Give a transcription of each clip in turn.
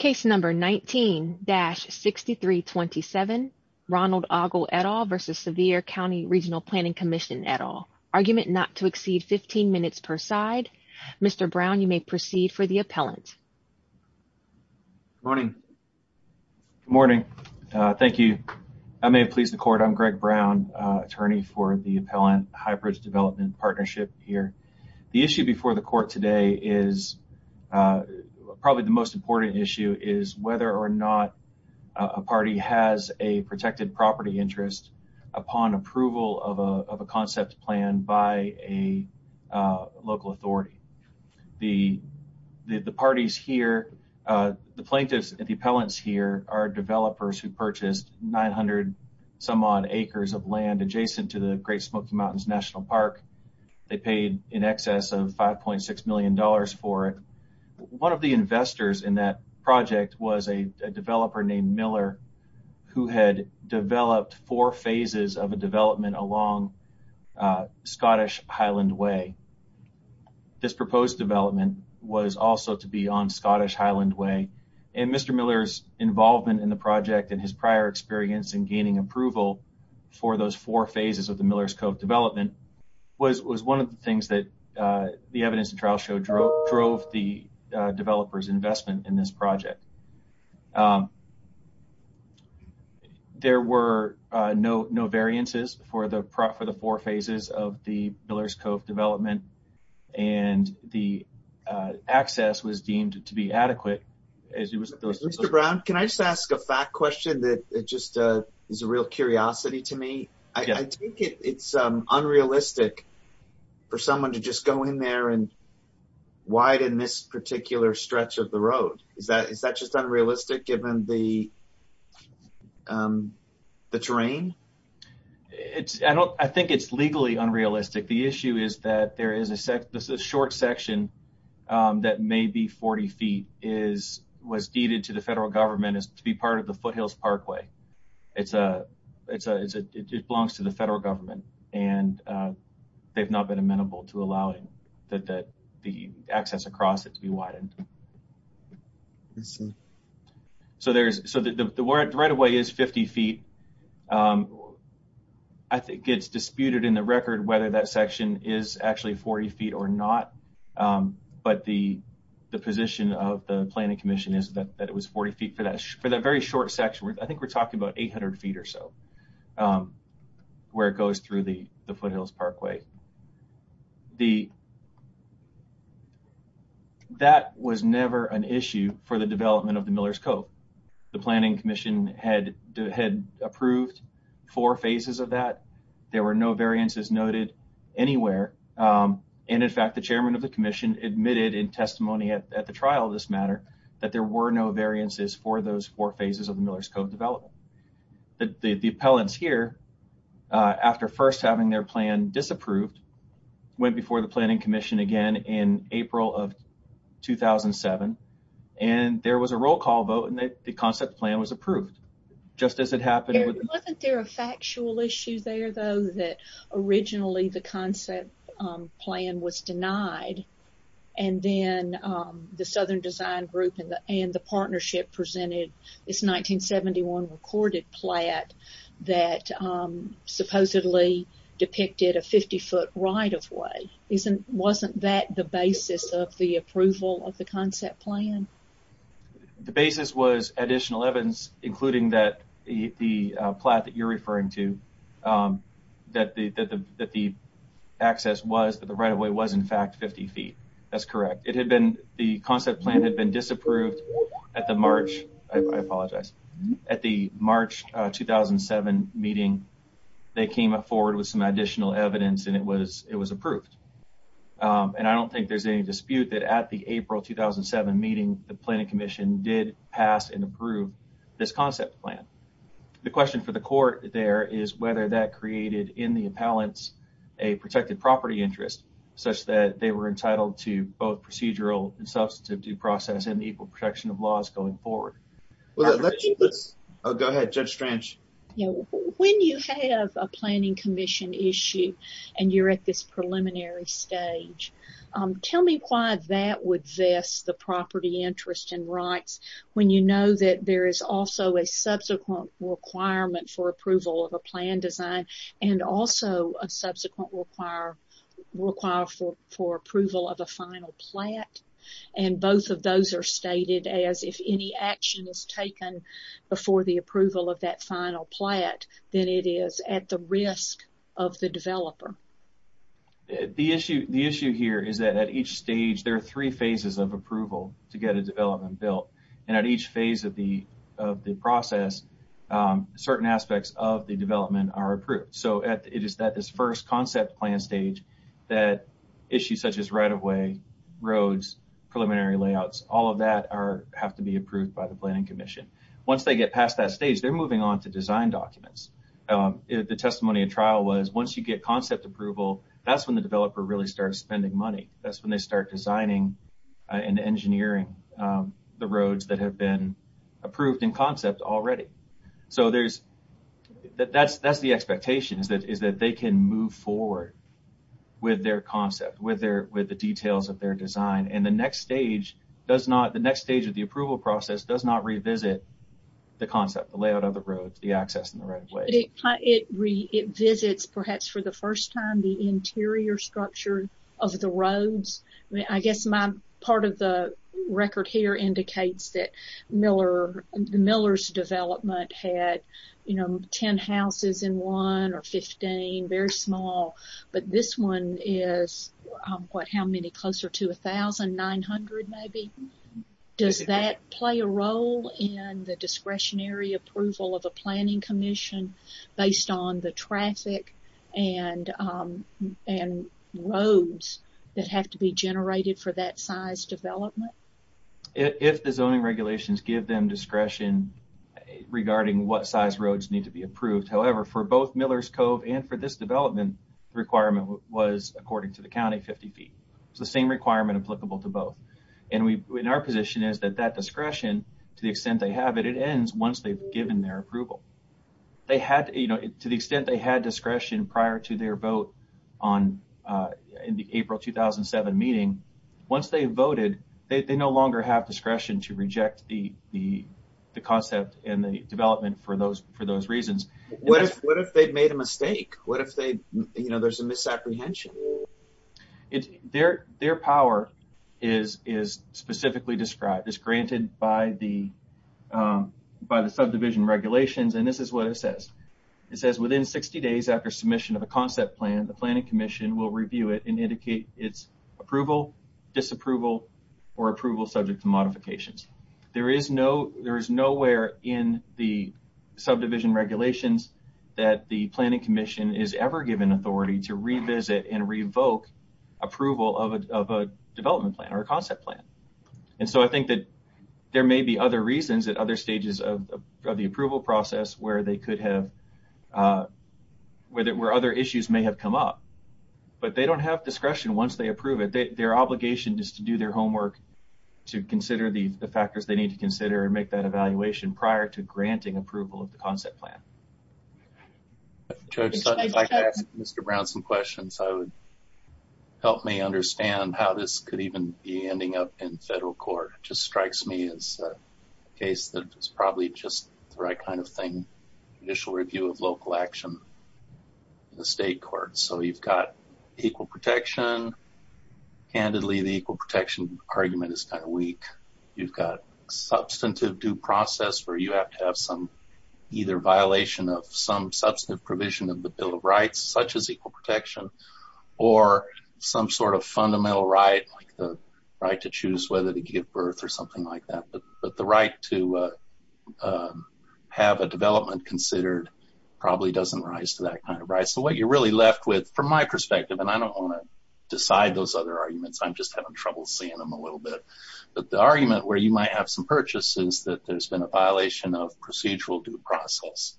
19-6327 Ronald Ogle v. Sevier Cnty Rgnl Planning Commission Argument not to exceed 15 minutes per side Mr. Brown, you may proceed for the appellant. Good morning. Good morning. Thank you. I may have pleased the court. I'm Greg Brown, attorney for the Appellant-Hybrid Development Partnership here. The issue before the court today is probably the most important issue, is whether or not a party has a protected property interest upon approval of a concept plan by a local authority. The parties here, the plaintiffs and the appellants here are developers who purchased 900-some-odd acres of land adjacent to the Great Smoky Mountains National Park. They paid in excess of $5.6 million for it. One of the investors in that project was a developer named Miller, who had developed four phases of a development along Scottish Highland Way. This proposed development was also to be on Scottish Highland Way. Mr. Miller's involvement in the project and his prior experience in gaining approval for those four phases of the Miller's Cove development was one of the things that the evidence and trial showed drove the developers' investment in this project. There were no variances for the four phases of the Miller's Cove development, and the access was deemed to be adequate. Mr. Brown, can I just ask a fact question that is a real curiosity to me? I think it's unrealistic for someone to just go in there and widen this particular stretch of the road. Is that just unrealistic given the terrain? I think it's legally unrealistic. The issue is that this short section that may be 40 feet was deeded to the federal government to be part of the Foothills Parkway. It belongs to the federal government, and they've not been amenable to allowing the access across it to be widened. I see. That section is actually 40 feet or not, but the position of the Planning Commission is that it was 40 feet for that very short section. I think we're talking about 800 feet or so where it goes through the Foothills Parkway. That was never an issue for the development of the Miller's Cove. The Planning Commission had approved four phases of that. There were no variances noted anywhere. In fact, the chairman of the commission admitted in testimony at the trial of this matter that there were no variances for those four phases of the Miller's Cove development. The appellants here, after first having their plan disapproved, went before the Planning Commission again in April of 2007, and there was a roll call vote, and the concept plan was approved just as it happened. Wasn't there a factual issue there, though, that originally the concept plan was denied, and then the Southern Design Group and the partnership presented this 1971 recorded plat that supposedly depicted a 50-foot right-of-way? Wasn't that the basis of the approval of the concept plan? The basis was additional evidence, including the plat that you're referring to, that the access was that the right-of-way was, in fact, 50 feet. That's correct. The concept plan had been disapproved at the March 2007 meeting. They came forward with some additional evidence, and it was approved. I don't think there's any dispute that at the April 2007 meeting, the Planning Commission did pass and approve this concept plan. The question for the court there is whether that created in the appellants a protected property interest, such that they were entitled to both procedural and substantive due process and equal protection of laws going forward. Go ahead, Judge Strange. When you have a Planning Commission issue and you're at this preliminary stage, tell me why that would vest the property interest and rights when you know that there is also a subsequent requirement for approval of a plan design and also a subsequent require for approval of a final plat, and both of those are stated as if any action is taken before the approval of that final plat, then it is at the risk of the developer. The issue here is that at each stage, there are three phases of approval to get a development built, and at each phase of the process, certain aspects of the development are approved. It is at this first concept plan stage that issues such as right-of-way, roads, preliminary layouts, all of that have to be approved by the Planning Commission. Once they get past that stage, they're moving on to design documents. The testimony at trial was once you get concept approval, that's when the developer really starts spending money. That's when they start designing and engineering the roads that have been approved in concept already. That's the expectation is that they can move forward with their concept, with the details of their design, and the next stage of the approval process does not revisit the concept, the layout of the roads, the access and the right-of-way. It visits, perhaps for the first time, the interior structure of the roads. I guess my part of the record here indicates that Miller's development had 10 houses in one or 15, very small, but this one is, what, how many closer to 1,900 maybe? Does that play a role in the discretionary approval of the Planning Commission based on the traffic and roads that have to be generated for that size development? If the zoning regulations give them discretion regarding what size roads need to be approved, however, for both Miller's Cove and for this development, the requirement was, according to the county, 50 feet. It's the same requirement applicable to both. And our position is that that discretion, to the extent they have it, it ends once they've given their approval. To the extent they had discretion prior to their vote in the April 2007 meeting, once they voted, they no longer have discretion to reject the concept and the development for those reasons. What if they'd made a mistake? What if there's a misapprehension? Their power is specifically described, is granted by the subdivision regulations, and this is what it says. It says, within 60 days after submission of a concept plan, the Planning Commission will review it and indicate its approval, disapproval, or approval subject to modifications. There is nowhere in the subdivision regulations that the Planning Commission is ever given authority to revisit and revoke approval of a development plan or a concept plan. And so I think that there may be other reasons at other stages of the approval process where other issues may have come up. But they don't have discretion once they approve it. Their obligation is to do their homework to consider the factors they need to consider and make that evaluation prior to granting approval of the concept plan. Judge Sutton, if I could ask Mr. Brown some questions, I would help me understand how this could even be ending up in federal court. It just strikes me as a case that it's probably just the right kind of thing, an initial review of local action in the state court. So you've got equal protection. Candidly, the equal protection argument is kind of weak. You've got substantive due process where you have to have either violation of some substantive provision of the Bill of Rights, such as equal protection, or some sort of fundamental right, like the right to choose whether to give birth or something like that. But the right to have a development considered probably doesn't rise to that kind of right. So what you're really left with, from my perspective, and I don't want to decide those other arguments, I'm just having trouble seeing them a little bit. But the argument where you might have some purchase is that there's been a violation of procedural due process.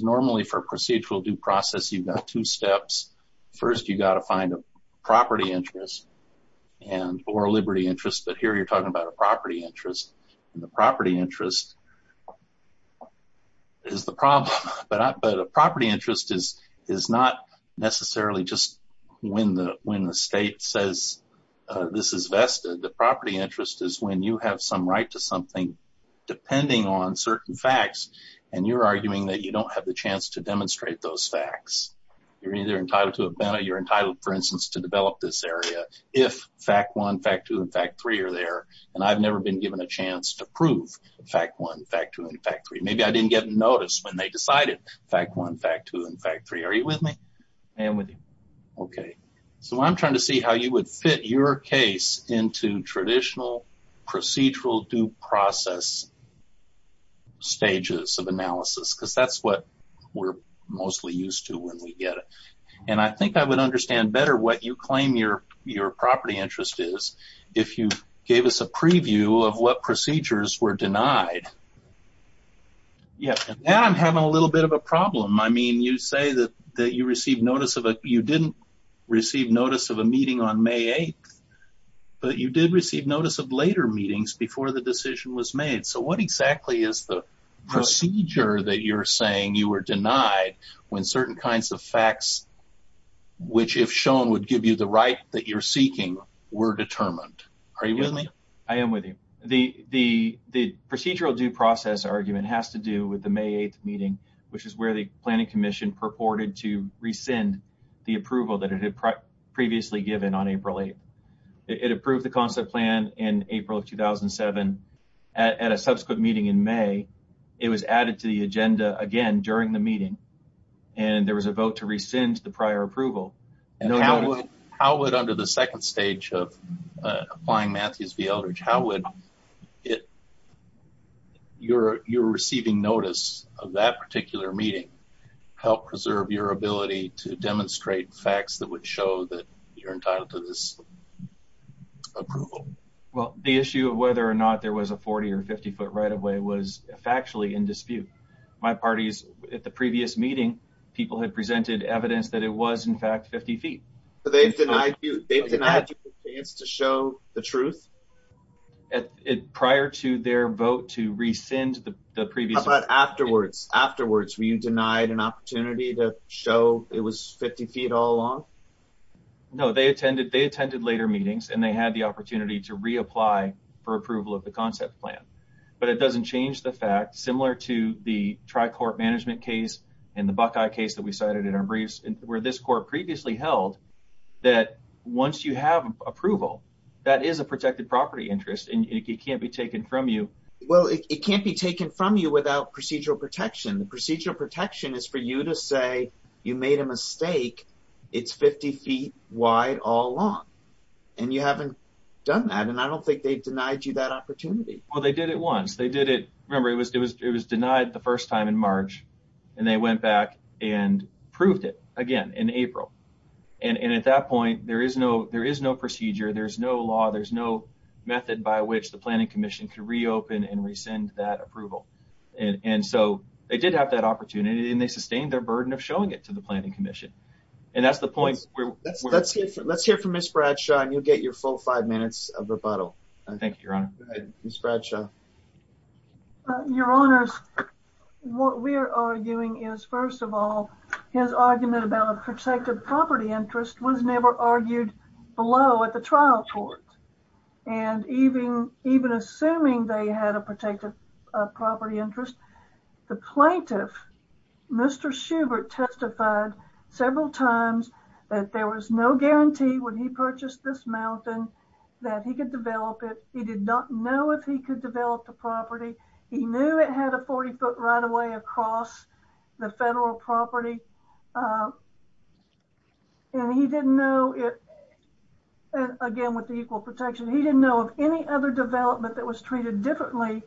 Normally, for procedural due process, you've got two steps. First, you've got to find a property interest or a liberty interest, but here you're talking about a property interest. And the property interest is the problem. But a property interest is not necessarily just when the state says this is vested. The property interest is when you have some right to something depending on certain facts, and you're arguing that you don't have the chance to demonstrate those facts. You're either entitled to a benefit or you're entitled, for instance, to develop this area if fact one, fact two, and fact three are there. And I've never been given a chance to prove fact one, fact two, and fact three. Maybe I didn't get noticed when they decided fact one, fact two, and fact three. Are you with me? I am with you. Okay. So I'm trying to see how you would fit your case into traditional procedural due process stages of analysis because that's what we're mostly used to when we get it. And I think I would understand better what you claim your property interest is if you gave us a preview of what procedures were denied. Yeah. Now I'm having a little bit of a problem. I mean, you say that you received notice of a – you didn't receive notice of a meeting on May 8th, but you did receive notice of later meetings before the decision was made. So what exactly is the procedure that you're saying you were denied when certain kinds of facts, which if shown would give you the right that you're seeking, were determined? Are you with me? I am with you. The procedural due process argument has to do with the May 8th meeting, which is where the Planning Commission purported to rescind the approval that it had previously given on April 8th. It approved the concept plan in April of 2007. At a subsequent meeting in May, it was added to the agenda again during the meeting, and there was a vote to rescind the prior approval. How would, under the second stage of applying Matthews v. Eldridge, how would your receiving notice of that particular meeting help preserve your ability to demonstrate facts that would show that you're entitled to this approval? Well, the issue of whether or not there was a 40- or 50-foot right-of-way was factually in dispute. My party's – at the previous meeting, people had presented evidence that it was, in fact, 50 feet. So they've denied you. They've denied you the chance to show the truth? Prior to their vote to rescind the previous – How about afterwards? Afterwards, were you denied an opportunity to show it was 50 feet all along? No, they attended later meetings, and they had the opportunity to reapply for approval of the concept plan. But it doesn't change the fact, similar to the tri-court management case and the Buckeye case that we cited in our briefs, where this court previously held that once you have approval, that is a protected property interest, and it can't be taken from you. Well, it can't be taken from you without procedural protection. The procedural protection is for you to say you made a mistake. It's 50 feet wide all along, and you haven't done that. And I don't think they've denied you that opportunity. Well, they did it once. They did it – remember, it was denied the first time in March, and they went back and proved it again in April. And at that point, there is no procedure. There's no law. There's no method by which the planning commission can reopen and rescind that approval. And so they did have that opportunity, and they sustained their burden of showing it to the planning commission. And that's the point. Let's hear from Ms. Bradshaw, and you'll get your full five minutes of rebuttal. Thank you, Your Honor. Go ahead, Ms. Bradshaw. Your Honors, what we are arguing is, first of all, his argument about a protected property interest was never argued below at the trial court. And even assuming they had a protected property interest, the plaintiff, Mr. Schubert, testified several times that there was no guarantee when he purchased this mountain that he could develop it. He did not know if he could develop the property. He knew it had a 40-foot right-of-way across the federal property. And he didn't know – again, with the equal protection – he didn't know of any other development that was treated differently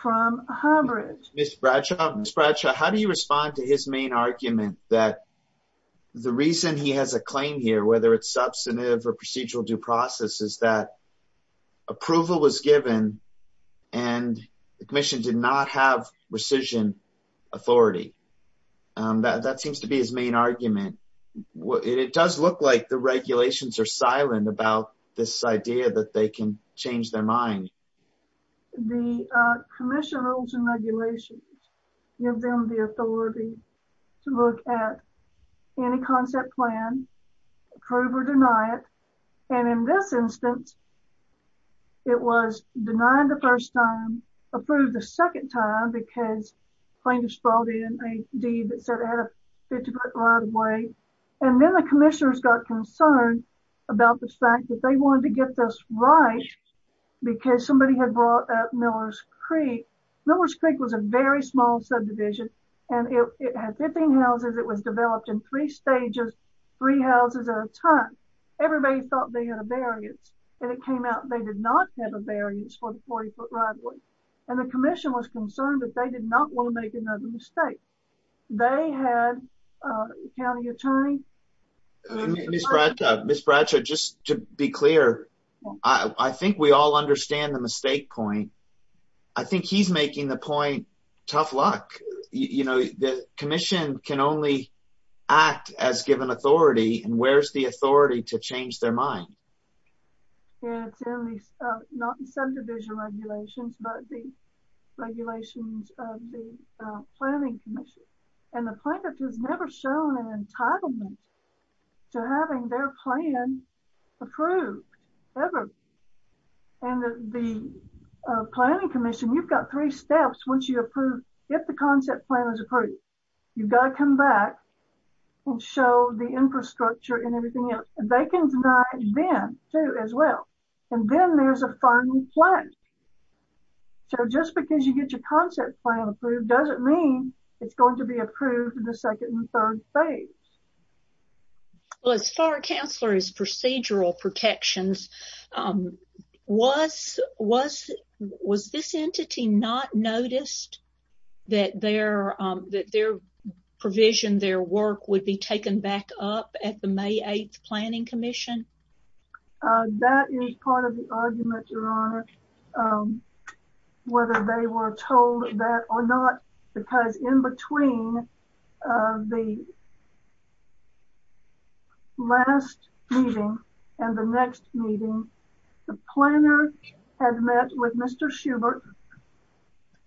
from Highbridge. Ms. Bradshaw, how do you respond to his main argument that the reason he has a claim here, whether it's substantive or procedural due process, is that approval was given, and the commission did not have rescission authority? That seems to be his main argument. It does look like the regulations are silent about this idea that they can change their mind. The commission rules and regulations give them the authority to look at any concept plan, approve or deny it. And in this instance, it was denied the first time, approved the second time, because plaintiffs brought in a deed that said it had a 50-foot right-of-way. And then the commissioners got concerned about the fact that they wanted to get this right because somebody had brought up Millers Creek. Millers Creek was a very small subdivision, and it had 15 houses. It was developed in three stages, three houses at a time. Everybody thought they had a variance, and it came out they did not have a variance for the 40-foot right-of-way. And the commission was concerned that they did not want to make another mistake. They had a county attorney. Ms. Bradshaw, just to be clear, I think we all understand the mistake point. I think he's making the point, tough luck. You know, the commission can only act as given authority, and where's the authority to change their mind? It's in the subdivision regulations, but the regulations of the planning commission. And the plaintiff has never shown an entitlement to having their plan approved, ever. And the planning commission, you've got three steps once you approve, if the concept plan is approved. You've got to come back and show the infrastructure and everything else. They can deny it then, too, as well. And then there's a final plan. So just because you get your concept plan approved doesn't mean it's going to be approved in the second and third phase. Well, as far as counselor's procedural protections, was this entity not noticed that their provision, their work, would be taken back up at the May 8th planning commission? That is part of the argument, Your Honor, whether they were told that or not. Because in between the last meeting and the next meeting, the planner had met with Mr. Schubert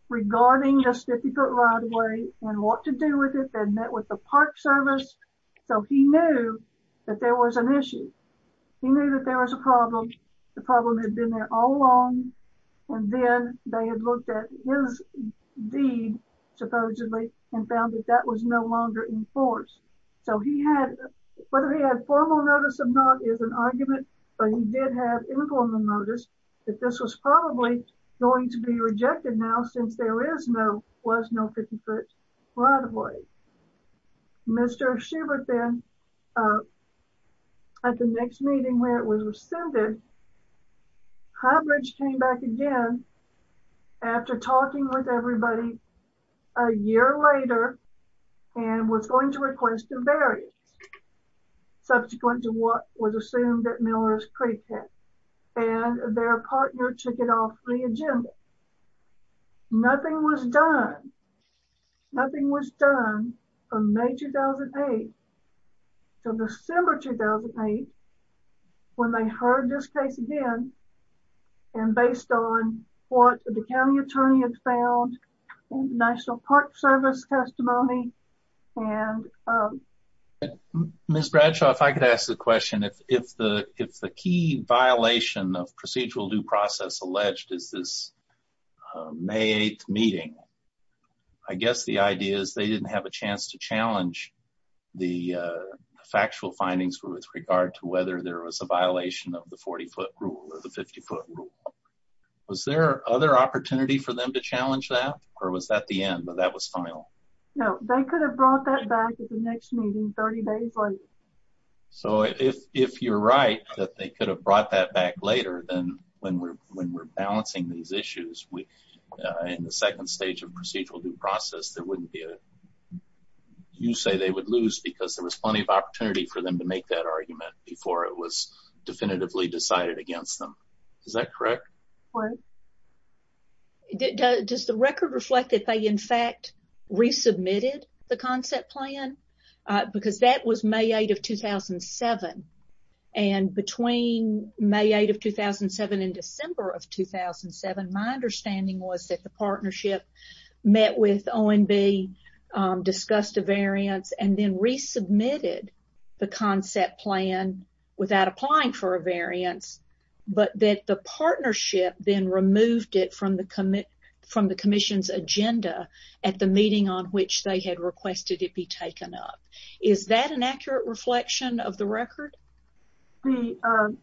regarding this difficult right away and what to do with it. They met with the park service, so he knew that there was an issue. He knew that there was a problem. The problem had been there all along, and then they had looked at his deed, supposedly, and found that that was no longer in force. So whether he had formal notice or not is an argument, but he did have informal notice that this was probably going to be rejected now since there was no 50-foot right of way. Mr. Schubert then, at the next meeting where it was rescinded, Highbridge came back again after talking with everybody a year later and was going to request a variance subsequent to what was assumed that Miller's Creek had, and their partner took it off the agenda. Nothing was done. Nothing was done from May 2008 to December 2008 when they heard this case again, and based on what the county attorney had found, National Park Service testimony. Ms. Bradshaw, if I could ask a question. If the key violation of procedural due process alleged is this May 8th meeting, I guess the idea is they didn't have a chance to challenge the factual findings with regard to whether there was a violation of the 40-foot rule or the 50-foot rule. Was there other opportunity for them to challenge that, or was that the end, but that was final? No, they could have brought that back at the next meeting 30 days later. So, if you're right that they could have brought that back later, then when we're balancing these issues in the second stage of procedural due process, you say they would lose because there was plenty of opportunity for them to make that argument before it was definitively decided against them. Is that correct? Correct. Does the record reflect that they, in fact, resubmitted the concept plan? Because that was May 8th of 2007, and between May 8th of 2007 and December of 2007, my understanding was that the partnership met with ONB, discussed a variance, and then resubmitted the concept plan without applying for a variance, but that the partnership then removed it from the commission's agenda at the meeting on which they had requested it be taken up. Is that an accurate reflection of the record? The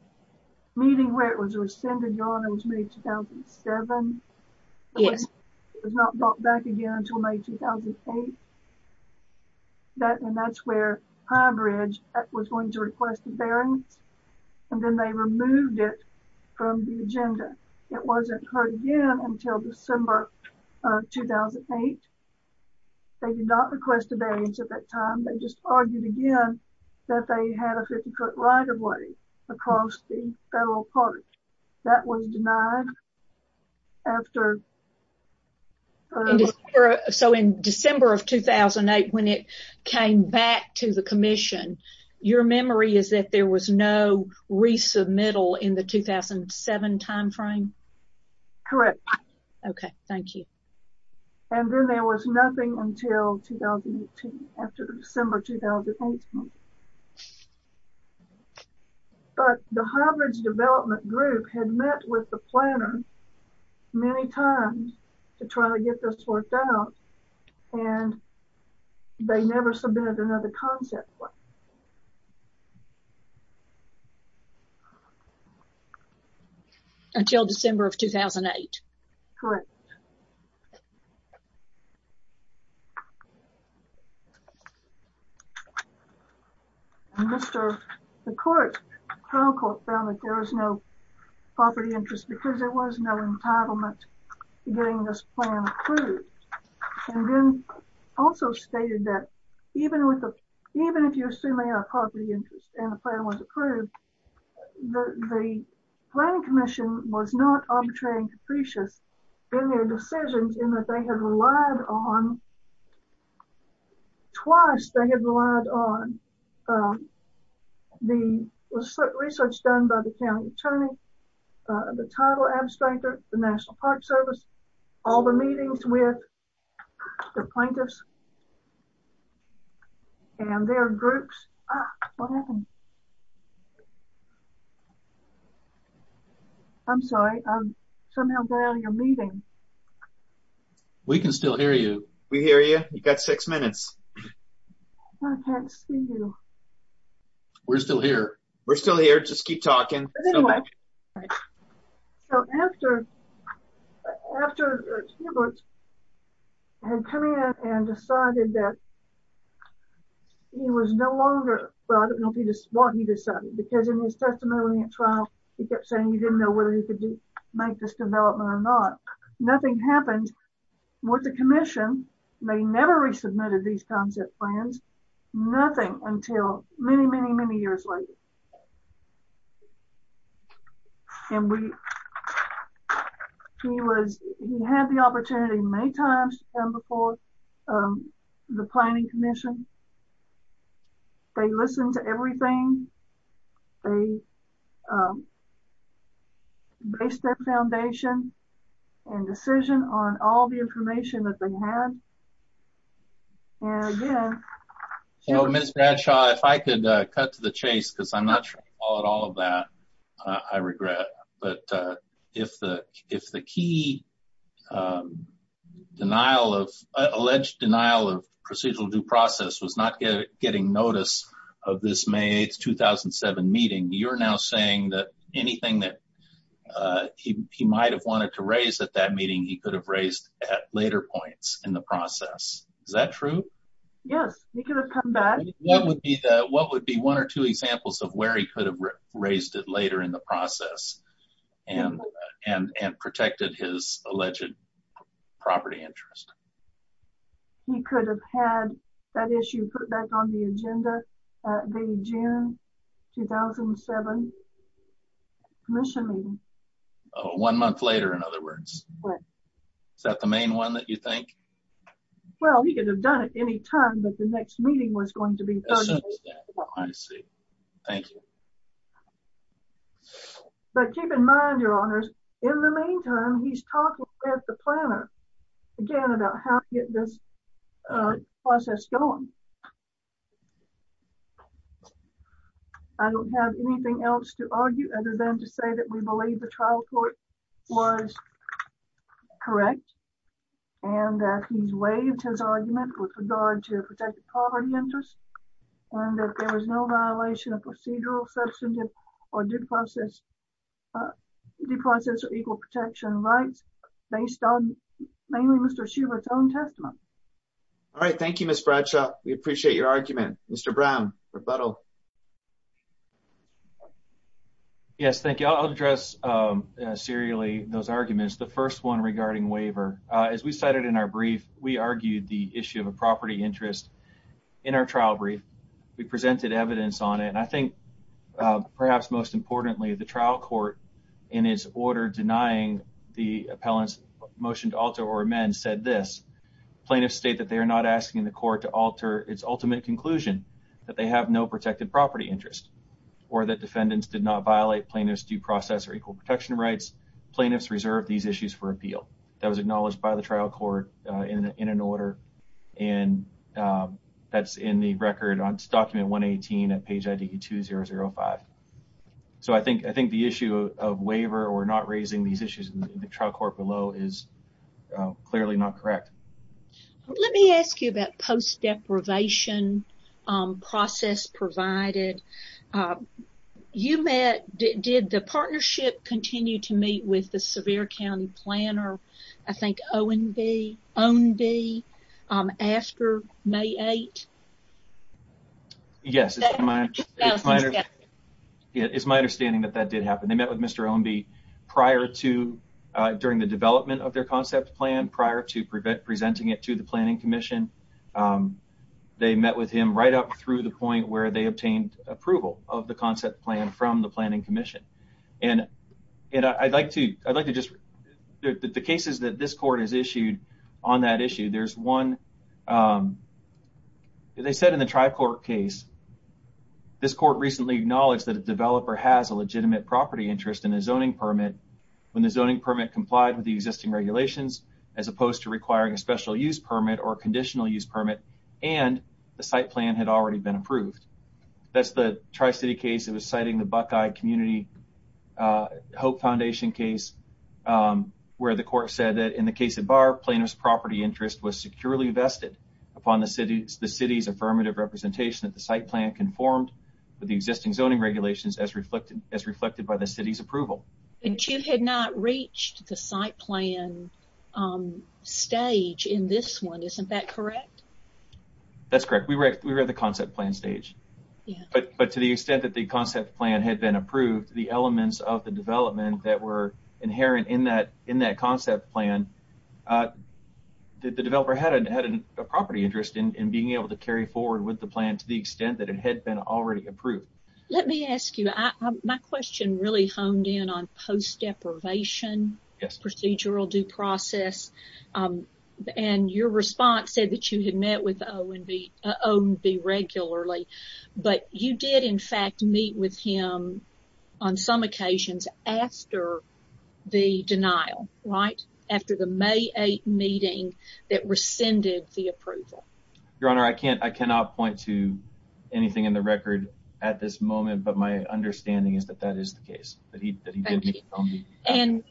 meeting where it was rescinded, your honor, was May 2007? Yes. It was not brought back again until May 2008, and that's where Pinebridge was going to request a variance, and then they removed it from the agenda. It wasn't heard again until December 2008. They did not request a variance at that time. They just argued again that they had a 50-foot right-of-way across the federal park. That was denied after… So, in December of 2008, when it came back to the commission, your memory is that there was no resubmittal in the 2007 timeframe? Correct. Okay, thank you. And then there was nothing until 2018, after December 2018. But the Highbridge Development Group had met with the planner many times to try to get this worked out, and they never submitted another concept plan. Until December of 2008? Correct. Thank you. The Crown Court found that there was no property interest because there was no entitlement to getting this plan approved. And then also stated that even if you assume they have property interest and the plan was approved, the Planning Commission was not arbitrary and capricious in their decisions in that they had relied on… The plaintiffs and their groups… Ah, what happened? I'm sorry. I somehow got out of your meeting. We can still hear you. We hear you. You've got six minutes. I can't see you. We're still here. We're still here. Just keep talking. So, after Kieberts had come in and decided that he was no longer… Well, I don't know if he was smart, he decided, because in his testimony at trial, he kept saying he didn't know whether he could make this development or not. Nothing happened with the Commission. They never resubmitted these concept plans. Nothing until many, many, many years later. And we… He was… He had the opportunity many times to come before the Planning Commission. They listened to everything. They based their foundation and decision on all the information that they had. And again… So, Ms. Bradshaw, if I could cut to the chase, because I'm not sure I can call it all of that, I regret. But if the key denial of… Alleged denial of procedural due process was not getting notice of this May 8, 2007 meeting, you're now saying that anything that he might have wanted to raise at that meeting, he could have raised at later points in the process. Is that true? Yes, he could have come back. What would be one or two examples of where he could have raised it later in the process and protected his alleged property interest? He could have had that issue put back on the agenda at the June 2007 Commission meeting. One month later, in other words. Right. Is that the main one that you think? Well, he could have done it any time, but the next meeting was going to be… I see. Thank you. But keep in mind, Your Honors, in the meantime, he's talking with the planner again about how to get this process going. I don't have anything else to argue other than to say that we believe the trial court was correct, and that he's waived his argument with regard to protected property interest, and that there was no violation of procedural, substantive, or due process or equal protection rights, based on mainly Mr. Schubert's own testimony. All right. Thank you, Ms. Bradshaw. We appreciate your argument. Mr. Brown, rebuttal. Yes, thank you. I'll address serially those arguments. The first one regarding waiver. As we cited in our brief, we argued the issue of a property interest in our trial brief. We presented evidence on it, and I think, perhaps most importantly, the trial court, in its order denying the appellant's motion to alter or amend, said this. Plaintiffs state that they are not asking the court to alter its ultimate conclusion, that they have no protected property interest, or that defendants did not violate plaintiff's due process or equal protection rights. Plaintiffs reserve these issues for appeal. That was acknowledged by the trial court in an order, and that's in the record on document 118 at page ID 2005. So, I think the issue of waiver or not raising these issues in the trial court below is clearly not correct. Let me ask you about post-deprivation process provided. You met, did the partnership continue to meet with the Sevier County planner, I think, Owen B., after May 8th? Yes. It's my understanding that that did happen. They met with Mr. Owen B. prior to, during the development of their concept plan, prior to presenting it to the planning commission. They met with him right up through the point where they obtained approval of the concept plan from the planning commission. And I'd like to just, the cases that this court has issued on that issue, there's one, they said in the trial court case, this court recently acknowledged that a developer has a legitimate property interest in a zoning permit when the zoning permit complied with the existing regulations, as opposed to requiring a special use permit or conditional use permit, and the site plan had already been approved. That's the Tri-City case that was citing the Buckeye Community Hope Foundation case, where the court said that in the case of Barr, plaintiff's property interest was securely vested upon the city's affirmative representation that the site plan conformed with the existing zoning regulations as reflected by the city's approval. And you had not reached the site plan stage in this one, isn't that correct? That's correct. We were at the concept plan stage. But to the extent that the concept plan had been approved, the elements of the development that were inherent in that concept plan, the developer had a property interest in being able to carry forward with the plan to the extent that it had been already approved. Let me ask you, my question really honed in on post deprivation procedural due process, and your response said that you had met with O&B regularly, but you did in fact meet with him on some occasions after the denial, right, after the May 8 meeting that rescinded the approval. Your Honor, I cannot point to anything in the record at this moment, but my understanding is that that is the case. Thank you. And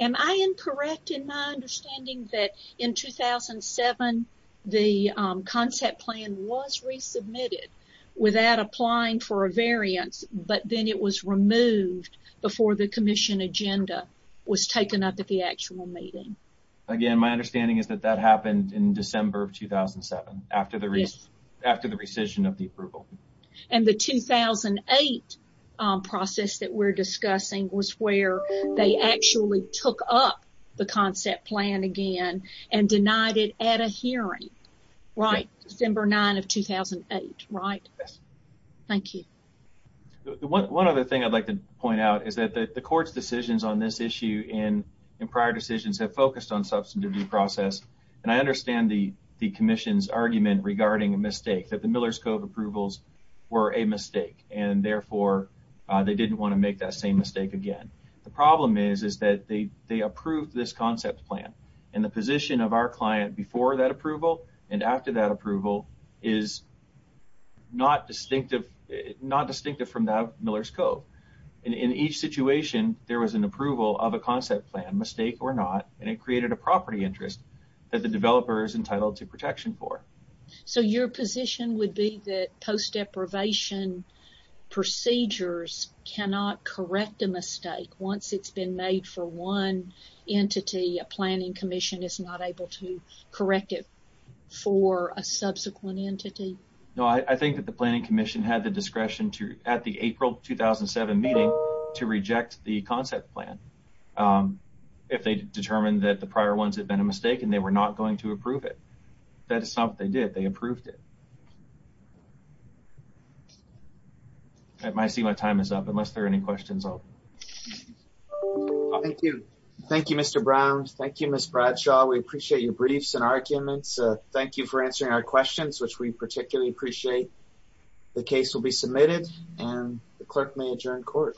am I incorrect in my understanding that in 2007, the concept plan was resubmitted without applying for a variance, but then it was removed before the commission agenda was taken up at the actual meeting? Again, my understanding is that that happened in December of 2007 after the rescission of the approval. And the 2008 process that we're discussing was where they actually took up the concept plan again and denied it at a hearing, right, December 9 of 2008, right? Yes. Thank you. One other thing I'd like to point out is that the court's decisions on this issue in prior decisions have focused on substantive due process, and I understand the commission's argument regarding a mistake, that the Miller's Code approvals were a mistake, and therefore, they didn't want to make that same mistake again. The problem is that they approved this concept plan, and the position of our client before that approval and after that approval is not distinctive from the Miller's Code. In each situation, there was an approval of a concept plan, mistake or not, and it created a property interest that the developer is entitled to protection for. So, your position would be that post deprivation procedures cannot correct a mistake once it's been made for one entity, a planning commission is not able to correct it for a subsequent entity? No, I think that the planning commission had the discretion at the April 2007 meeting to reject the concept plan if they determined that the prior ones had been a mistake and they were not going to approve it. That is not what they did. They approved it. I see my time is up. Unless there are any questions, I'll... Thank you. Thank you, Mr. Brown. Thank you, Ms. Bradshaw. We appreciate your briefs and arguments. Thank you for answering our questions, which we particularly appreciate. The case will be submitted, and the clerk may adjourn court.